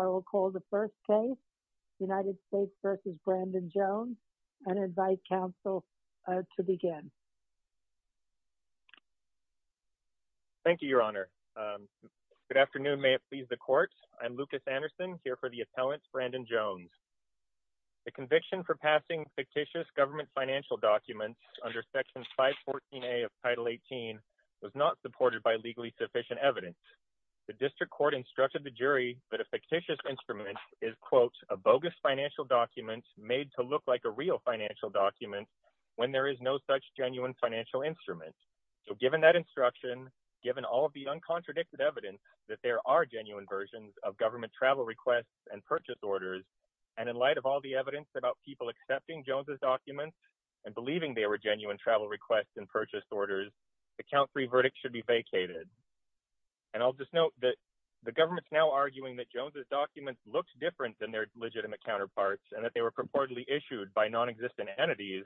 I will call the first case, United States v. Brandon Jones, and invite counsel to begin. Thank you, Your Honor. Good afternoon. May it please the Court. I'm Lucas Anderson here for the appellant, Brandon Jones. The conviction for passing fictitious government financial documents under Section 514A of Title 18 was not supported by legally sufficient evidence. The District Court instructed the jury that a fictitious instrument is, quote, a bogus financial document made to look like a real financial document when there is no such genuine financial instrument. So given that instruction, given all of the uncontradicted evidence that there are genuine versions of government travel requests and purchase orders, and in light of all the evidence about people accepting Jones' documents and believing they were genuine travel requests and purchase orders, the count three verdict should be vacated. And I'll just note that the government's now arguing that Jones' documents looked different than their legitimate counterparts and that they were purportedly issued by non-existent entities,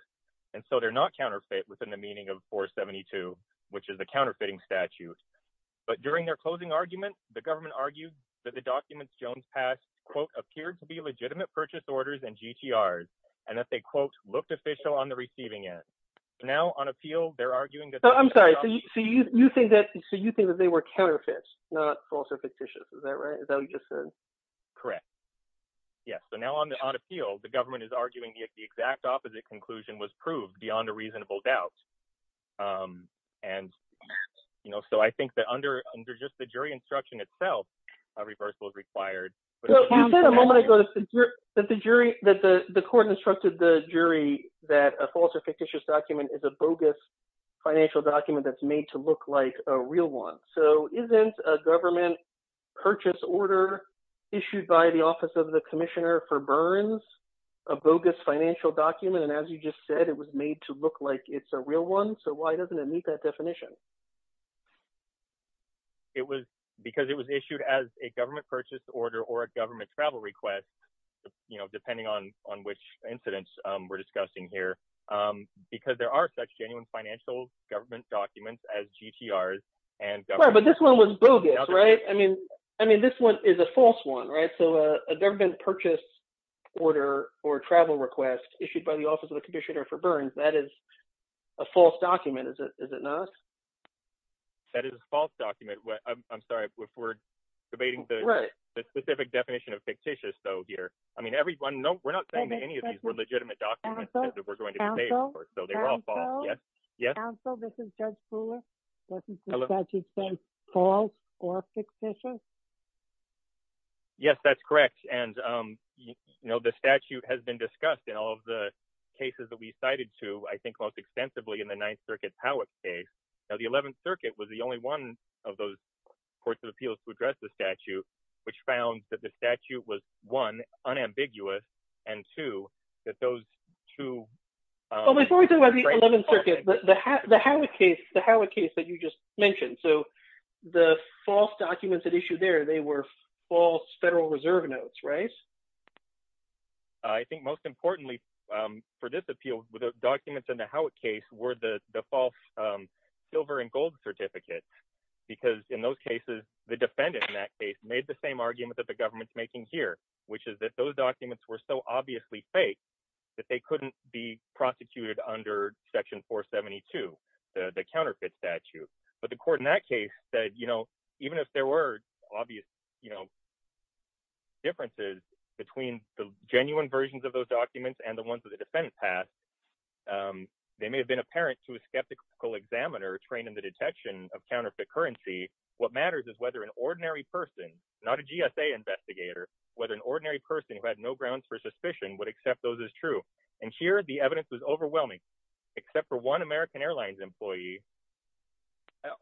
and so they're not counterfeit within the meaning of 472, which is a counterfeiting statute. But during their closing argument, the government argued that the documents Jones passed, quote, appeared to be legitimate purchase orders and GTRs, and that they, quote, looked official on the receiving end. Now on appeal, they're arguing that- I'm sorry, so you think that they were counterfeits, not false or fictitious, is that right? Is that what you just said? Correct. Yes. So now on appeal, the government is arguing that the exact opposite conclusion was proved beyond a reasonable doubt. And so I think that under just the jury instruction itself, a reversal is required. But you said a moment ago that the court instructed the jury that a false or fictitious document is a bogus financial document that's made to look like a real one. So isn't a government purchase order issued by the Office of the Commissioner for Burns a bogus financial document? And as you just said, it was made to look like it's a real one. So why doesn't it meet that definition? It was because it was issued as a government purchase order or a government travel request, depending on which incidents we're discussing here, because there are such genuine financial government documents as GTRs and- But this one was bogus, right? I mean, this one is a false one, right? So a government purchase order or travel request issued by the Office of the Commissioner for Burns, that is a false document, is it not? That is a false document. I'm sorry, if we're debating the specific definition of fictitious, though, here, I mean, everyone, no, we're not saying that any of these were legitimate documents that were going to be paid for, so they're all false. Yes? Counsel, this is Judge Fuller, doesn't the statute say false or fictitious? Yes, that's correct. And, you know, the statute has been discussed in all of the cases that we cited to, I think, most extensively in the Ninth Circuit Howick case. Now, the Eleventh Circuit was the only one of those courts of appeals to address the statute, which found that the statute was, one, unambiguous, and two, that those two- Well, before we talk about the Eleventh Circuit, the Howick case that you just mentioned, so the false documents that issued there, they were false Federal Reserve notes, right? I think most importantly for this appeal, the documents in the Howick case were the false silver and gold certificates, because in those cases, the defendant in that case made the same argument that the government's making here, which is that those documents were so obviously fake that they couldn't be prosecuted under Section 472, the counterfeit statute. But the court in that case said, you know, even if there were obvious, you know, differences between the genuine versions of those documents and the ones that the defendants had, they may have been apparent to a skeptical examiner trained in the detection of counterfeit currency. What matters is whether an ordinary person, not a GSA investigator, whether an ordinary person who had no grounds for suspicion would accept those as true. And here, the evidence was overwhelming, except for one American Airlines employee.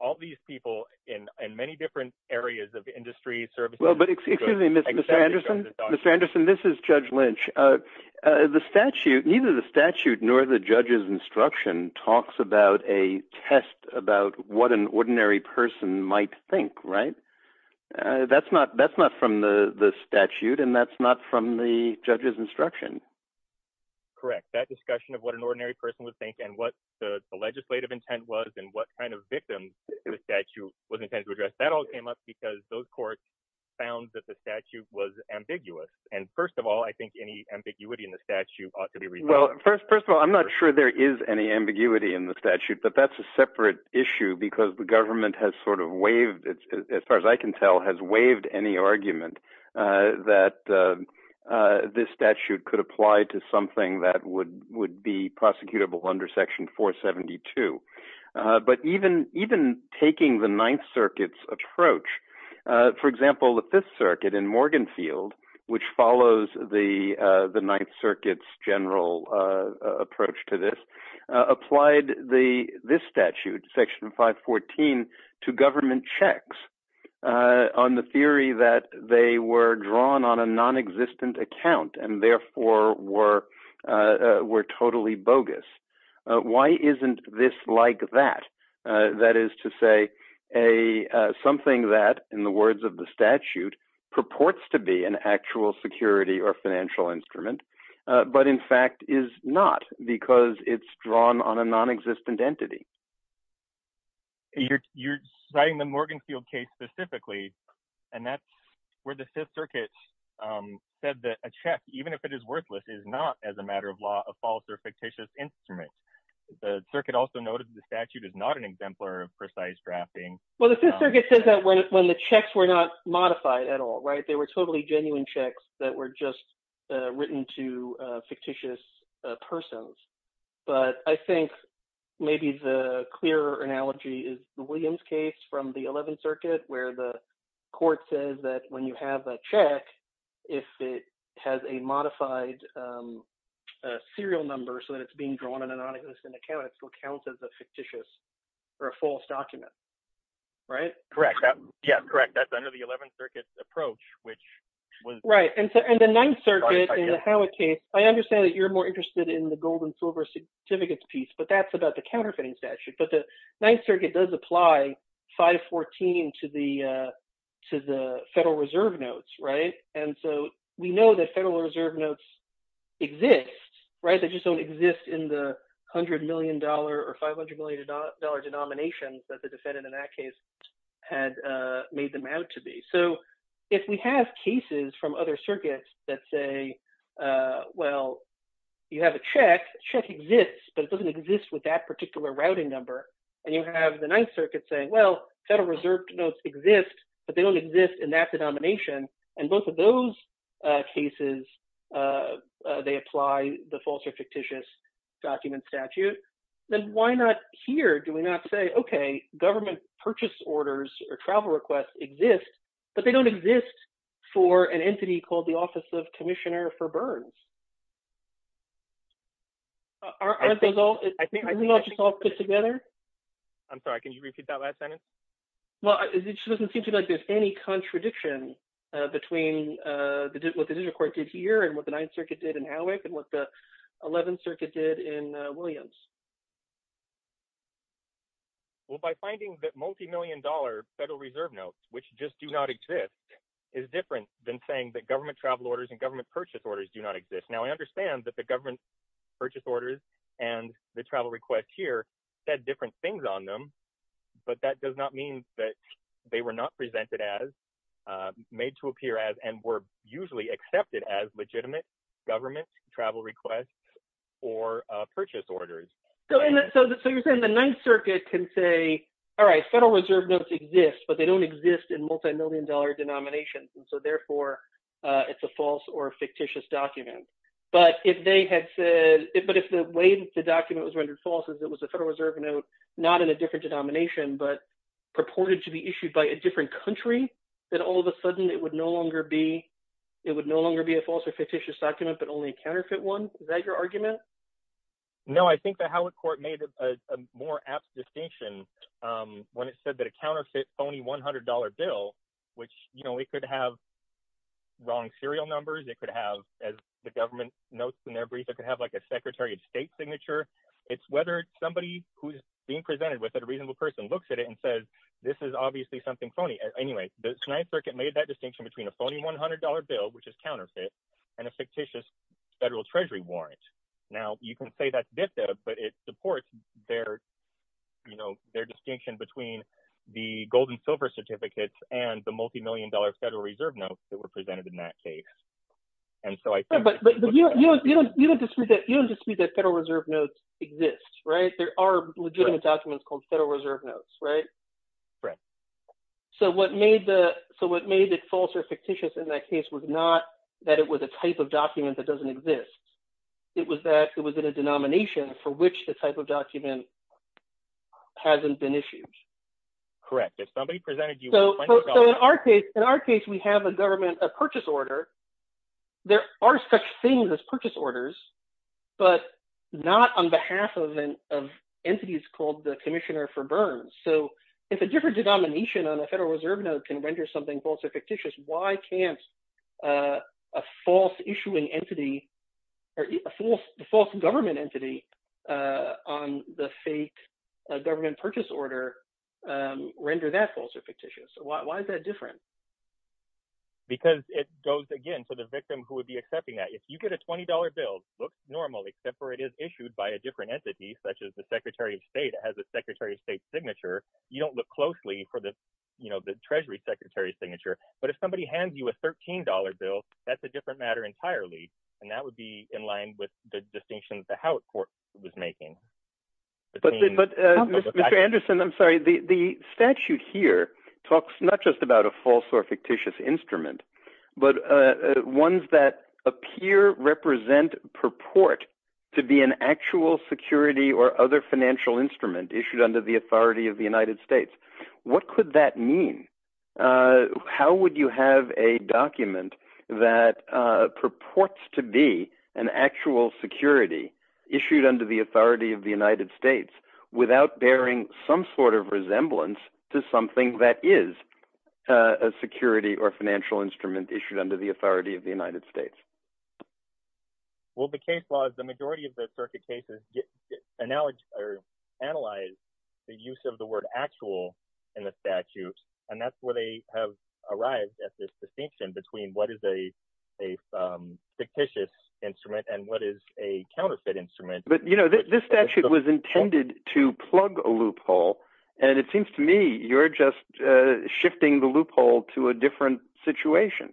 All these people in many different areas of industry services- Well, but excuse me, Mr. Anderson. Mr. Anderson, this is Judge Lynch. The statute, neither the statute nor the judge's instruction talks about a test about what an ordinary person might think, right? That's not from the statute, and that's not from the judge's instruction. Correct. That discussion of what an ordinary person would think and what the legislative intent was and what kind of victim the statute was intended to address, that all came up because those courts found that the statute was ambiguous. And first of all, I think any ambiguity in the Well, first of all, I'm not sure there is any ambiguity in the statute, but that's a separate issue because the government has sort of waived, as far as I can tell, has waived any argument that this statute could apply to something that would be prosecutable under Section 472. But even taking the Ninth Circuit's approach, for example, the Fifth Circuit in Morganfield, which follows the Ninth Circuit's general approach to this, applied this statute, Section 514, to government checks on the theory that they were drawn on a non-existent account and therefore were totally bogus. Why isn't this like that? That is to say something that, in the words of the statute, purports to be an actual security or financial instrument, but in fact is not because it's drawn on a non-existent entity. You're citing the Morganfield case specifically, and that's where the Fifth Circuit said that a check, even if it is worthless, is not, as a matter of law, a false or fictitious instrument. The circuit also noted the statute is not an modified at all, right? They were totally genuine checks that were just written to fictitious persons. But I think maybe the clearer analogy is the Williams case from the Eleventh Circuit, where the court says that when you have a check, if it has a modified serial number so that it's being drawn on a non-existent account, it still counts as a fictitious or a false document, right? Correct. Yeah, correct. That's under the Eleventh Circuit's approach, which was... Right. And the Ninth Circuit, in the Howitt case, I understand that you're more interested in the gold and silver certificates piece, but that's about the counterfeiting statute. But the Ninth Circuit does apply 514 to the Federal Reserve notes, right? And so we know that Federal Reserve notes exist, right? They just don't exist in the $100 million or $500 million denominations that the defendant in that case had made them out to be. So if we have cases from other circuits that say, well, you have a check, the check exists, but it doesn't exist with that particular routing number. And you have the Ninth Circuit saying, well, Federal Reserve notes exist, but they don't exist in that denomination. And both of those cases, they apply the false or government purchase orders or travel requests exist, but they don't exist for an entity called the Office of Commissioner for Burns. Aren't those all just all put together? I'm sorry, can you repeat that last sentence? Well, it just doesn't seem to me like there's any contradiction between what the District Court did here and what the Ninth Circuit did in Howitt and what the Eleventh Circuit did in Howitt. Well, by finding that multi-million dollar Federal Reserve notes, which just do not exist, is different than saying that government travel orders and government purchase orders do not exist. Now, I understand that the government purchase orders and the travel requests here said different things on them, but that does not mean that they were not presented as, made to appear as, and were usually accepted as legitimate government travel requests or purchase orders. So you're saying the Ninth Circuit can say, all right, Federal Reserve notes exist, but they don't exist in multi-million dollar denominations, and so therefore it's a false or fictitious document. But if they had said, but if the way the document was rendered false is it was a Federal Reserve note, not in a different denomination, but purported to be issued by a different country, then all of a sudden it would no longer be, it would no longer be a false or fictitious document, but only a counterfeit one. Is that your argument? No, I think the Howard Court made a more apt distinction when it said that a counterfeit phony $100 bill, which, you know, it could have wrong serial numbers, it could have, as the government notes in their brief, it could have like a Secretary of State signature. It's whether somebody who's being presented with it, a reasonable person, looks at it and says, this is obviously something phony. Anyway, the Ninth Circuit made that distinction between a Federal Treasury warrant. Now, you can say that's VIFTA, but it supports their, you know, their distinction between the gold and silver certificates and the multi-million dollar Federal Reserve notes that were presented in that case. And so I think... But you don't dispute that, you don't dispute that Federal Reserve notes exist, right? There are legitimate documents called Federal Reserve notes, right? Right. So what made the, so what made it false or fictitious in that case was not that it was a type of document that doesn't exist. It was that it was in a denomination for which the type of document hasn't been issued. Correct. If somebody presented you... So in our case, we have a government, a purchase order. There are such things as purchase orders, but not on behalf of entities called the Commissioner for Burns. So if a different denomination on a Federal Reserve note can render something false or fictitious, why can't a false issuing entity or a false government entity on the fake government purchase order render that false or fictitious? Why is that different? Because it goes, again, to the victim who would be accepting that. If you get a $20 bill, looks normal, except for it is issued by a different entity, such as the Secretary of State. It has a Secretary of State signature. You don't look closely for the Treasury Secretary's signature. But if somebody hands you a $13 bill, that's a different matter entirely. And that would be in line with the distinction that the Howard Court was making. But Mr. Anderson, I'm sorry, the statute here talks not just about a false or fictitious instrument, but ones that appear, represent, purport to be an actual security or other financial instrument issued under the authority of the United States. What could that mean? How would you have a document that purports to be an actual security issued under the authority of the United States without bearing some sort of resemblance to something that is a security or financial instrument issued under the authority of the United States? Well, the case law is the analyze the use of the word actual in the statutes. And that's where they have arrived at this distinction between what is a fictitious instrument and what is a counterfeit instrument. But you know, this statute was intended to plug a loophole. And it seems to me you're just shifting the loophole to a different situation.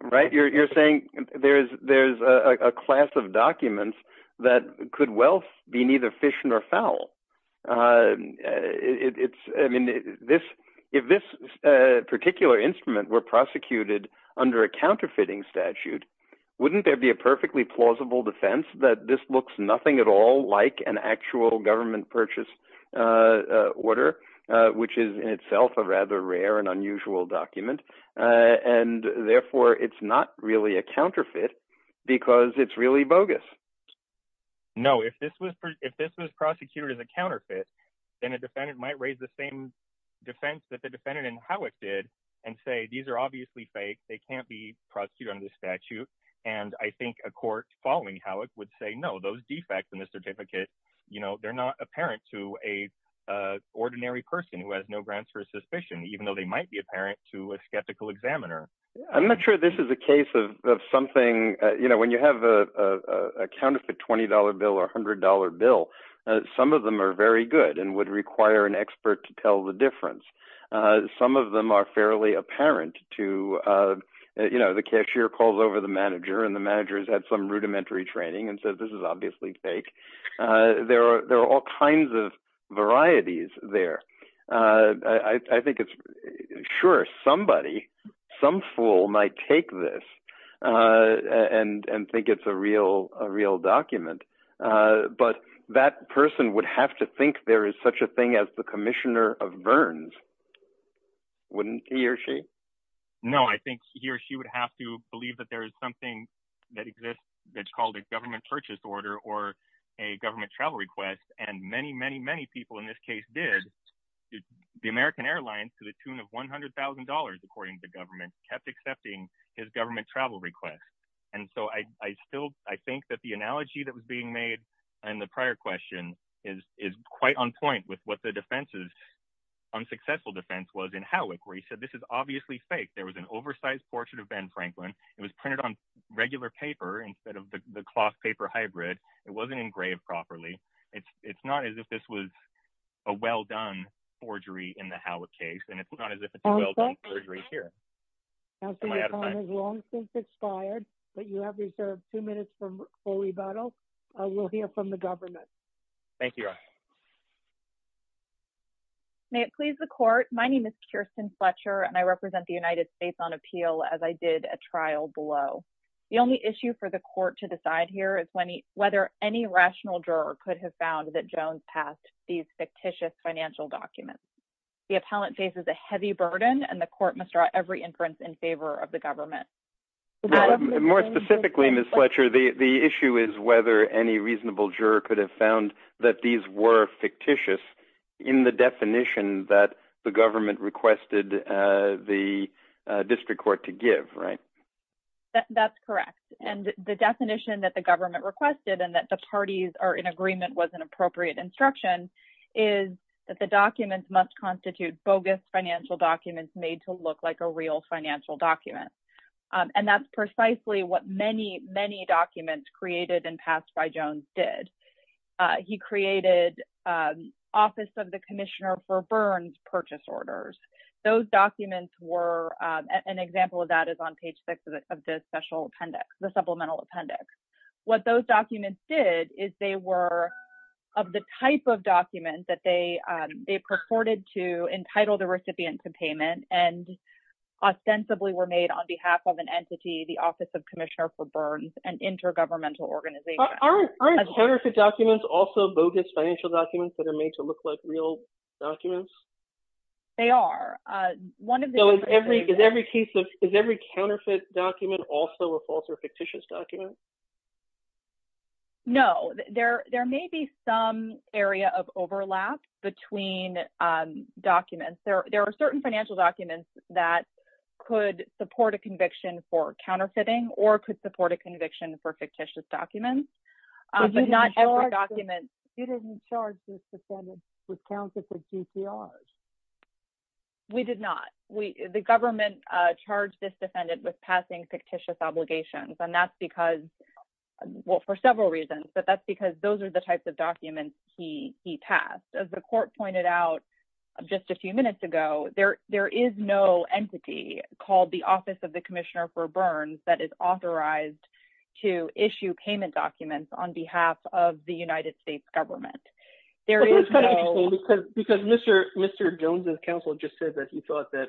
Right? You're saying there's a class of documents that could well be neither efficient or foul. It's I mean, this, if this particular instrument were prosecuted under a counterfeiting statute, wouldn't there be a perfectly plausible defense that this looks nothing at all like an actual government purchase order, which is in itself a rather rare and unusual document. And therefore, it's not really a counterfeit, because it's really bogus. No, if this was, if this was prosecuted as a counterfeit, then a defendant might raise the same defense that the defendant and how it did, and say, these are obviously fake, they can't be prosecuted under the statute. And I think a court following how it would say no, those defects in the certificate, you know, they're not apparent to a ordinary person who has no grounds for suspicion, even though they might be apparent to a skeptical examiner. I'm not sure this is a case of something, you know, when you have a counterfeit $20 bill or $100 bill, some of them are very good and would require an expert to tell the difference. Some of them are fairly apparent to, you know, the cashier calls over the manager and the managers had some rudimentary training and said, this is obviously fake. There are there are all kinds of varieties there. I think it's sure somebody, some fool might take this and and think it's a real a real document. But that person would have to think there is such a thing as the Commissioner of Burns. Wouldn't he or she? No, I think he or she would have to believe that there is something that exists that's called a government purchase order or a government travel request. And many, many, many people in this case did. The American Airlines to the tune of $100,000, according to government kept accepting his government travel request. And so I still I think that the analogy that was being made and the prior question is is quite on point with what the defense is. Unsuccessful defense was in Howick where he said this is obviously fake. There was an oversized portrait of Ben Franklin. It was printed on regular paper instead of the cloth paper hybrid. It wasn't engraved properly. It's not as if this was a well done forgery in the Howick case. And it's not as if it's a well done forgery here. Councilor, your time has long since expired, but you have reserved two minutes for full rebuttal. We'll hear from the government. Thank you. May it please the court. My name is Kirsten Fletcher, and I represent the United States on appeal as I did a trial below. The only issue for the court to decide here is when whether any rational juror could have found that Jones passed these fictitious financial documents. The appellant faces a heavy burden and the court must draw every inference in favor of the government. More specifically, Ms. Fletcher, the issue is whether any reasonable juror could have found that these were fictitious in the definition that the government requested the district court to give, right? That's correct. And the definition that the government requested and that the parties are in agreement was an appropriate instruction is that the documents must constitute bogus financial documents made to look like a real financial document. And that's precisely what many, many documents created and passed by Jones did. He created Office of the Commissioner for Special Appendix, the Supplemental Appendix. What those documents did is they were of the type of documents that they purported to entitle the recipient to payment and ostensibly were made on behalf of an entity, the Office of Commissioner for Burns and intergovernmental organization. Aren't counterfeit documents also bogus financial documents that are made to look like real documents? They are. So is every counterfeit document also a false or fictitious document? No. There may be some area of overlap between documents. There are certain financial documents that could support a conviction for counterfeiting or could support a conviction for fictitious documents, but not every document... You didn't charge this defendant with counterfeit GCRs. No, we did not. The government charged this defendant with passing fictitious obligations, and that's because... Well, for several reasons, but that's because those are the types of documents he passed. As the court pointed out just a few minutes ago, there is no entity called the Office of the Commissioner for Burns that is authorized to issue payment documents on behalf of the United States government. There is no... Because Mr. Jones' counsel just said that he thought that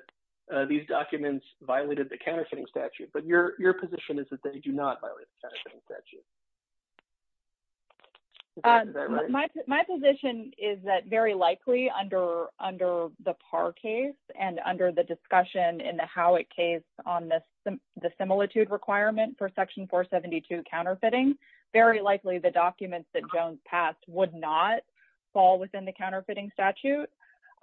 these documents violated the counterfeiting statute, but your position is that they do not violate the counterfeiting statute. Is that right? My position is that very likely under the Parr case and under the discussion in the Howick case on the similitude requirement for Section 472 counterfeiting, very likely the documents that Jones passed would not fall within the counterfeiting statute,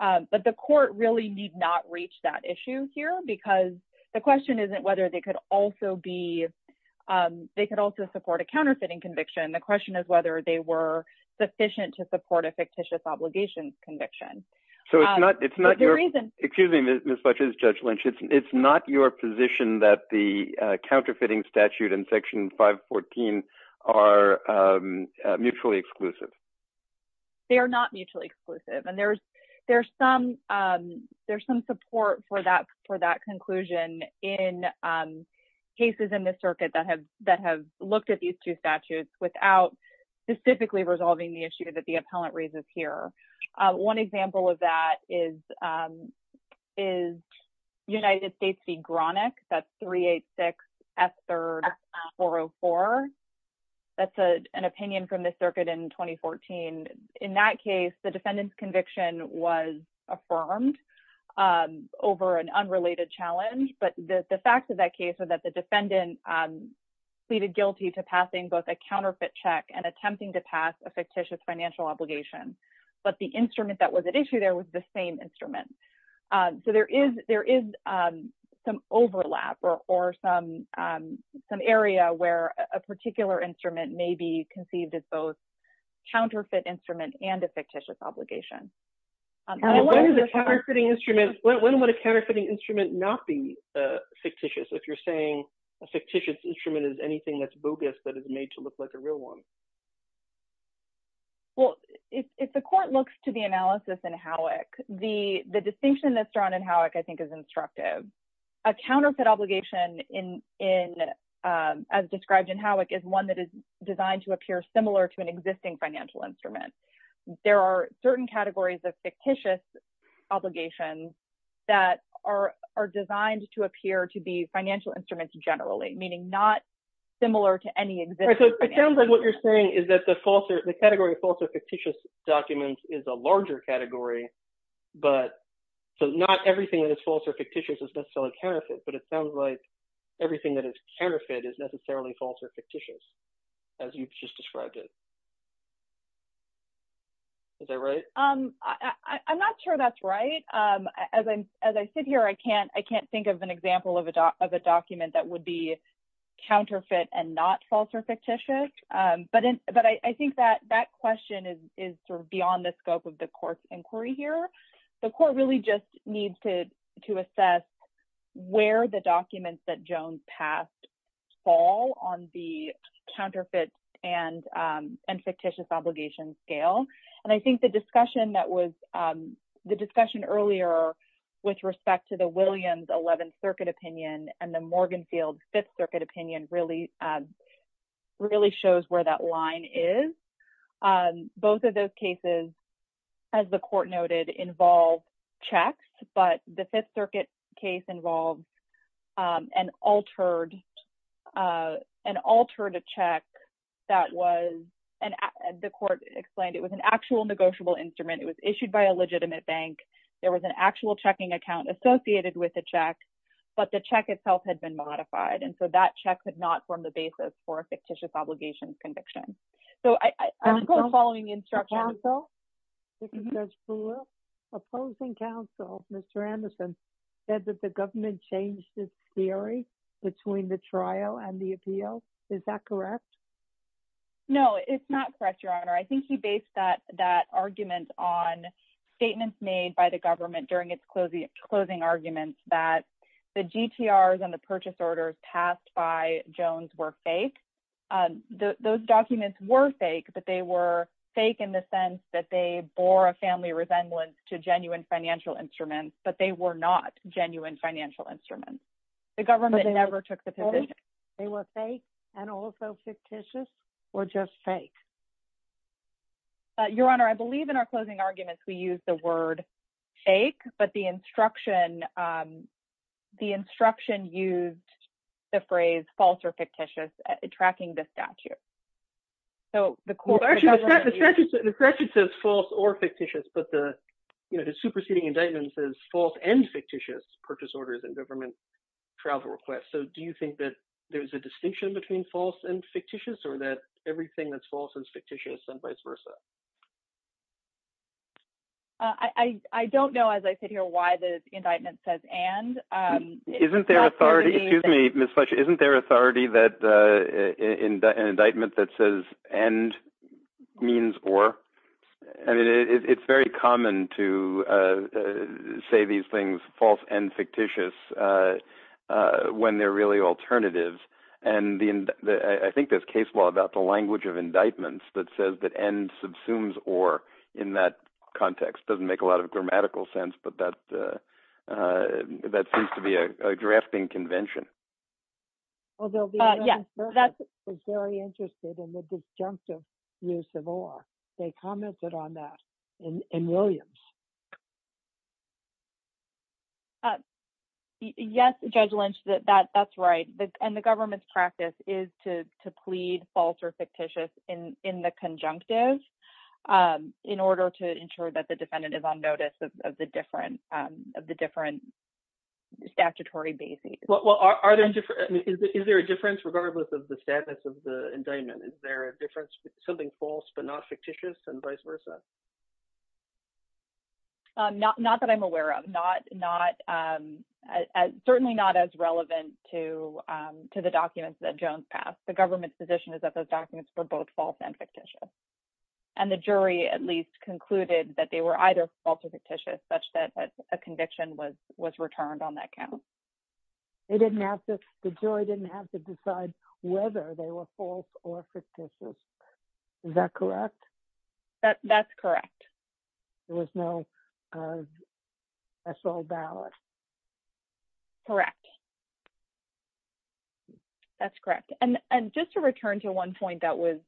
but the court really need not reach that issue here because the question isn't whether they could also be... They could also support a counterfeiting conviction. The question is whether they were sufficient to support a fictitious obligations conviction. So it's not your... For good reason. Excuse me, Ms. Butchers, Judge Lynch. It's not your position that the counterfeiting statute and Section 514 are mutually exclusive. They are not mutually exclusive. And there's some support for that conclusion in cases in the circuit that have looked at these two statutes without specifically resolving the issue that the appellant raises here. One example of that is United States v. Gronach, that's 386F3-404. That's an opinion from the circuit in 2014. In that case, the defendant's conviction was affirmed over an unrelated challenge. But the facts of that case are that the defendant pleaded guilty to passing both a counterfeit check and attempting to pass a fictitious financial obligation. But the instrument that was at issue there was the same instrument. So there is some overlap or some area where a particular instrument may be conceived as both counterfeit instrument and a fictitious obligation. When would a counterfeiting instrument not be fictitious, if you're saying a fictitious instrument is anything that's bogus that is made to look like a real one? Well, if the court looks to the analysis in Howick, the distinction that's drawn in Howick, I think, is instructive. A counterfeit obligation, as described in Howick, is one that is designed to appear similar to an existing financial instrument. There are certain categories of fictitious obligations that are designed to appear to be financial instruments generally, meaning not similar to any existing financial instrument. It sounds like what you're saying is that the category of false or fictitious documents is a larger category. So not everything that is false or fictitious is necessarily counterfeit. But it sounds like everything that is counterfeit is necessarily false or fictitious, as you've just described it. Is that right? I'm not sure that's right. As I sit here, I can't think of an example of a document that would be counterfeit and not false or fictitious. But I think that question is sort of beyond the scope of the court's inquiry here. The court really just needs to assess where the documents that Jones passed fall on the counterfeit and fictitious obligation scale. And I think the discussion that was the discussion earlier with respect to the Williams 11th Circuit opinion and the Morgan Field Fifth Circuit opinion really, really shows where that line is. Both of those cases, as the court noted, involved checks, but the Fifth Circuit case involved an altered, an altered check that was, and the court explained it was an actual negotiable instrument. It was issued by a legitimate bank. There was an actual checking account associated with the check, but the check itself had been modified. And so that check could not form the basis for a fictitious obligations conviction. So I'm following the instruction. Opposing counsel, Mr. Anderson said that the government changed this theory between the trial and the appeal. Is that correct? No, it's not correct, Your Honor. I think he based that argument on statements made by the that the GTRs and the purchase orders passed by Jones were fake. Those documents were fake, but they were fake in the sense that they bore a family resemblance to genuine financial instruments, but they were not genuine financial instruments. The government never took the position. They were fake and also fictitious or just fake? Your Honor, I believe in our closing arguments, we used the word fake, but the instruction, the instruction used the phrase false or fictitious tracking the statute. So the court, the statute, the statute says false or fictitious, but the, you know, the superseding indictment says false and fictitious purchase orders and government travel requests. So do you think that there's a distinction between false and fictitious or that everything that's false and fictitious and vice versa? I don't know, as I sit here, why the indictment says and. Isn't there authority, excuse me, Ms. Fletcher, isn't there authority that an indictment that says and means or? I mean, it's very common to say these things, false and fictitious. I don't think there's a language of indictments that says that and subsumes or in that context doesn't make a lot of grammatical sense, but that seems to be a drafting convention. Yeah, that's very interested in the disjunctive use of or they commented on that in Williams. Yes, Judge Lynch, that's right. And the government's practice is to plead false or in the conjunctive in order to ensure that the defendant is on notice of the different statutory basis. Is there a difference regardless of the status of the indictment? Is there a difference with something false but not fictitious and vice versa? Not that I'm aware of. Certainly not as relevant to the documents that Jones passed. The government's position is that those documents were both false and fictitious. And the jury at least concluded that they were either false or fictitious such that a conviction was returned on that count. They didn't have to, the jury didn't have to decide whether they were false or fictitious. Is that correct? That's correct. There was no special ballot. Correct. That's correct. And just to return to one point that was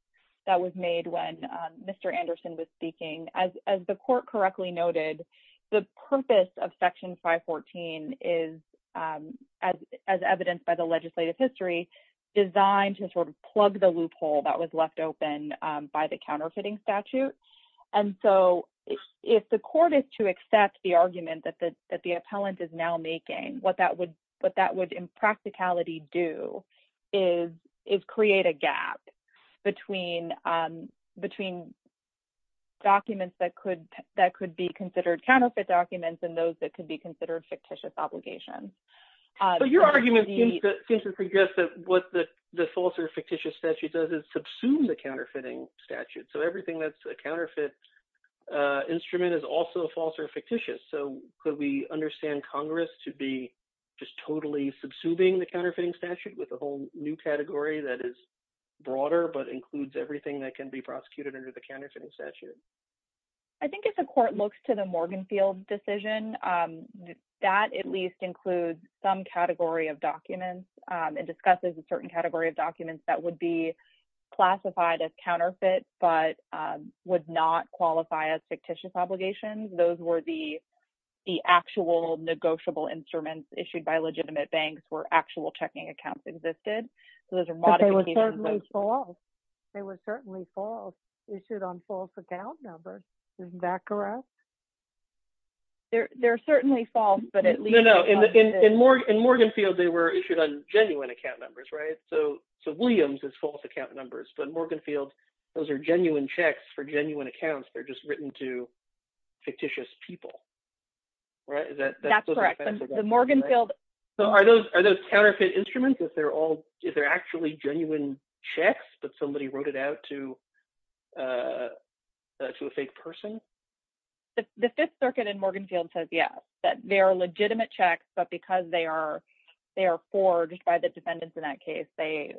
made when Mr. Anderson was speaking, as the court correctly noted, the purpose of Section 514 is, as evidenced by the legislative history, designed to sort of plug the loophole that was left open by the counterfeiting statute. And so if the court is to accept the argument that the appellant is now making, what that would, what that would in practicality do is create a gap between documents that could be considered counterfeit documents and those that could be considered fictitious obligations. But your argument seems to suggest that what the false or fictitious statute does is subsume the counterfeiting statute. So everything that's a counterfeit instrument is also false or fictitious. So could we understand Congress to be just totally subsuming the counterfeiting statute with a whole new category that is broader but includes everything that can be prosecuted under the counterfeiting statute? I think if the court looks to the Morganfield decision, that at least includes some category of documents and discusses a certain category of documents that would be classified as counterfeit but would not qualify as fictitious obligations. Those were the actual negotiable instruments issued by legitimate banks where actual checking accounts existed. So there's a lot of... But they were certainly false. They were certainly false, issued on false account numbers. Isn't that correct? They're certainly false, but at least... No, no. In Morganfield, they were issued on genuine account numbers, right? So Williams is false account numbers. But in Morganfield, those are genuine checks for genuine accounts. They're just written to fictitious people, right? Is that... That's correct. The Morganfield... So are those counterfeit instruments if they're actually genuine checks but somebody wrote it out to a fake person? The Fifth Circuit in Morganfield says yes, that they are legitimate checks, but because they are forged by the defendants in that case, they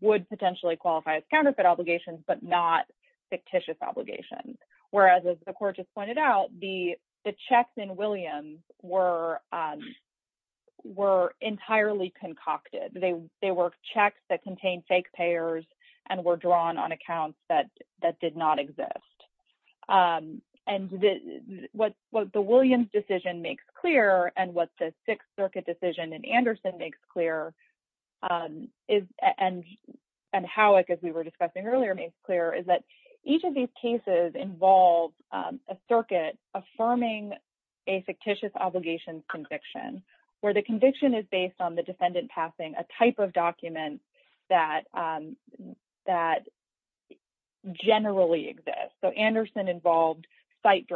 would potentially qualify as counterfeit obligations but not fictitious obligations. Whereas, as the court just pointed out, the checks in Williams were entirely concocted. They were checks that contained fake payers and were drawn on accounts that did not exist. And what the Williams decision makes clear and what the Sixth Circuit decision in Anderson makes clear and Howick, as we were discussing earlier, makes clear is that each of these cases involves a circuit affirming a fictitious obligations conviction where the conviction is based on the defendant passing a type of document that generally exists. So Anderson involved site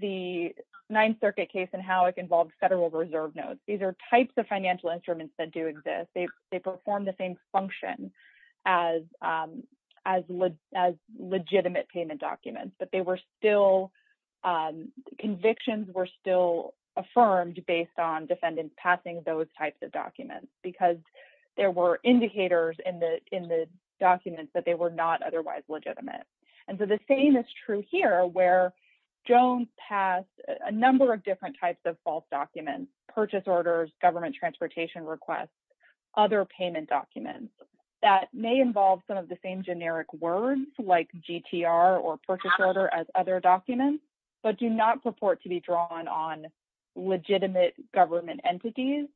the Ninth Circuit case and Howick involved federal reserve notes. These are types of financial instruments that do exist. They perform the same function as legitimate payment documents, but they were still... Convictions were still affirmed based on defendants passing those types of documents because there were indicators in the documents that they were not otherwise legitimate. And so the same is true here where Jones passed a number of different types of false documents, purchase orders, government transportation requests, other payment documents that may involve some of the same generic words like GTR or purchase order as other documents, but do not purport to be drawn on legitimate government entities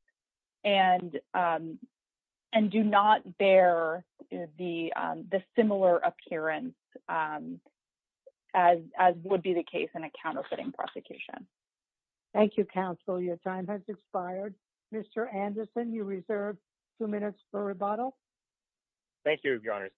and do not bear the similar appearance as would be the case in a counterfeiting prosecution. Thank you, counsel. Your time has expired. Mr. Anderson, you reserve two minutes for rebuttal. Thank you, Your Honor.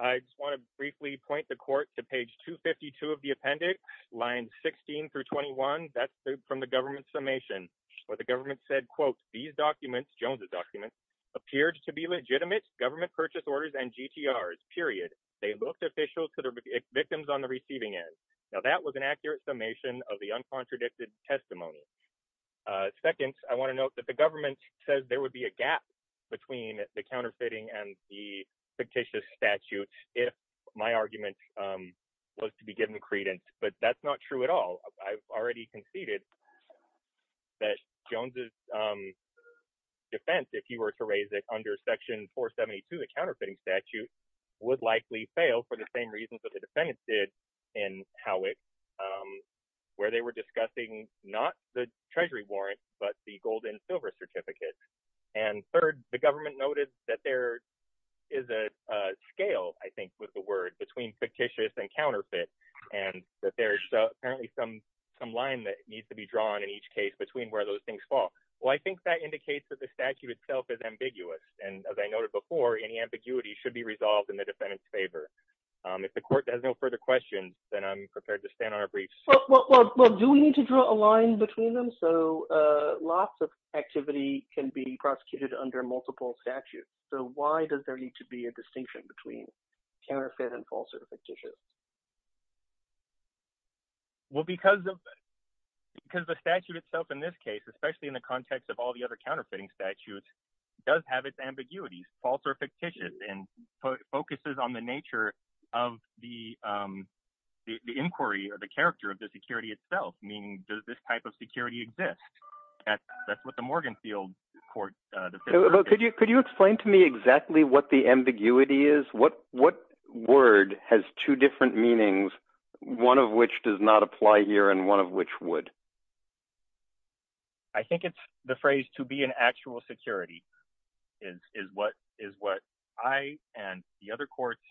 I just want to briefly point the court to page 252 of the appendix, lines 16 through 21. That's from the government's summation where the government said, quote, these documents, Jones's documents, appeared to be legitimate government purchase orders and GTRs, period. They looked official to the victims on the receiving end. Now that was an accurate summation of the uncontradicted testimony. Second, I want to note that the government says there would be a gap between the counterfeiting and the fictitious statute if my argument was to be given credence, but that's not true at all. I've already conceded that Jones's defense, if you were to raise it under section 472 of the counterfeiting statute, would likely fail for the same reasons that the defendants did in Howick, where they were discussing not the treasury warrants, but the gold and silver certificates. And third, the government noted that there is a scale, I think was the word, between fictitious and counterfeit, and that there's apparently some line that needs to be drawn in each case between where those things fall. Well, I think that indicates that the statute itself is ambiguous. And as I noted before, any ambiguity should be resolved in the defendant's favor. If the court has no further questions, then I'm prepared to stand on a brief. Well, do we need to draw a line between them? So lots of activity can be prosecuted under multiple statutes. So why does there need to be a distinction between counterfeit and false or fictitious? Well, because the statute itself in this case, especially in the context of all the other counterfeiting statutes, does have its ambiguity, false or fictitious, and focuses on the nature of the inquiry or the character of the security itself, meaning does this type of security exist? That's what the Morgan field court... Could you explain to me exactly what the ambiguity is? What word has two different meanings, one of which does not apply here and one of which would? I think it's the phrase to be an actual security is what I and the other courts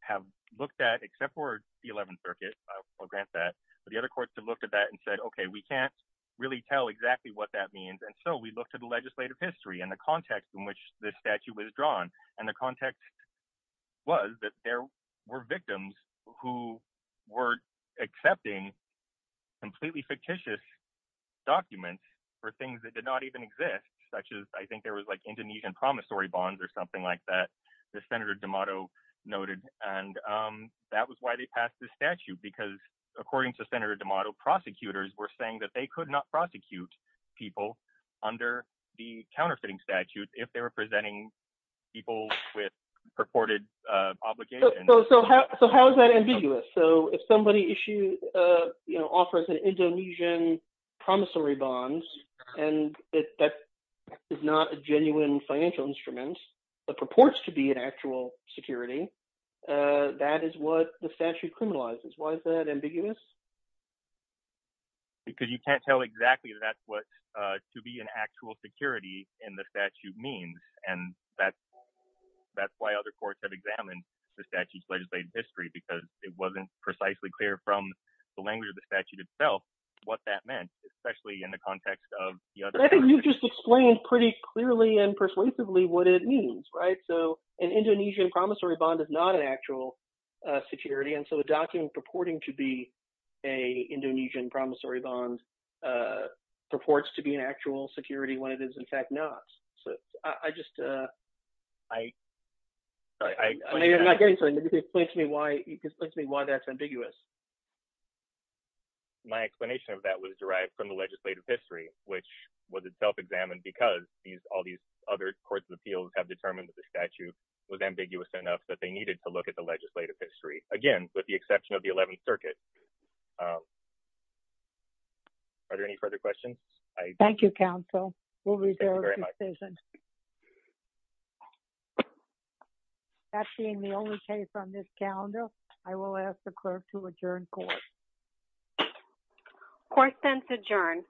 have looked at except for the 11th Circuit. I'll grant that. But the other courts have looked at that and said, OK, we can't really tell exactly what that means. And so we look to the legislative history and the context in which this statute was drawn. And the context was that there were victims who were accepting completely fictitious documents for things that did not even exist, such as I think there was like Indonesian promissory bonds or something like that that Senator D'Amato noted. And that was why they passed the statute, because according to Senator D'Amato, prosecutors were saying that they could not prosecute people under the counterfeiting statute if they were presenting people with purported obligations. So how is that ambiguous? So if somebody offers an Indonesian promissory bonds and that is not a genuine financial instrument that purports to be an actual security, that is what the statute criminalizes. Why is that ambiguous? Because you can't tell exactly if that's what to be an actual security in the statute means. And that's why other courts have examined the statute's legislative history, because it wasn't precisely clear from the language of the statute itself what that meant, especially in the context of the other. I think you've just explained pretty clearly and persuasively what it means, right? So an Indonesian promissory bond is not an actual security. And so a document purporting to be a Indonesian promissory bond purports to be an actual security when it is in fact not. So I just... I'm not getting to it. Can you explain to me why that's ambiguous? My explanation of that was derived from the legislative history, which was itself examined because all these other courts of appeals have determined that the statute was ambiguous enough that they needed to look at the legislative history. Again, with the exception of the 11th Circuit. Are there any further questions? Thank you, counsel. We'll reserve the decision. That being the only case on this calendar, I will ask the clerk to adjourn court. Court is adjourned.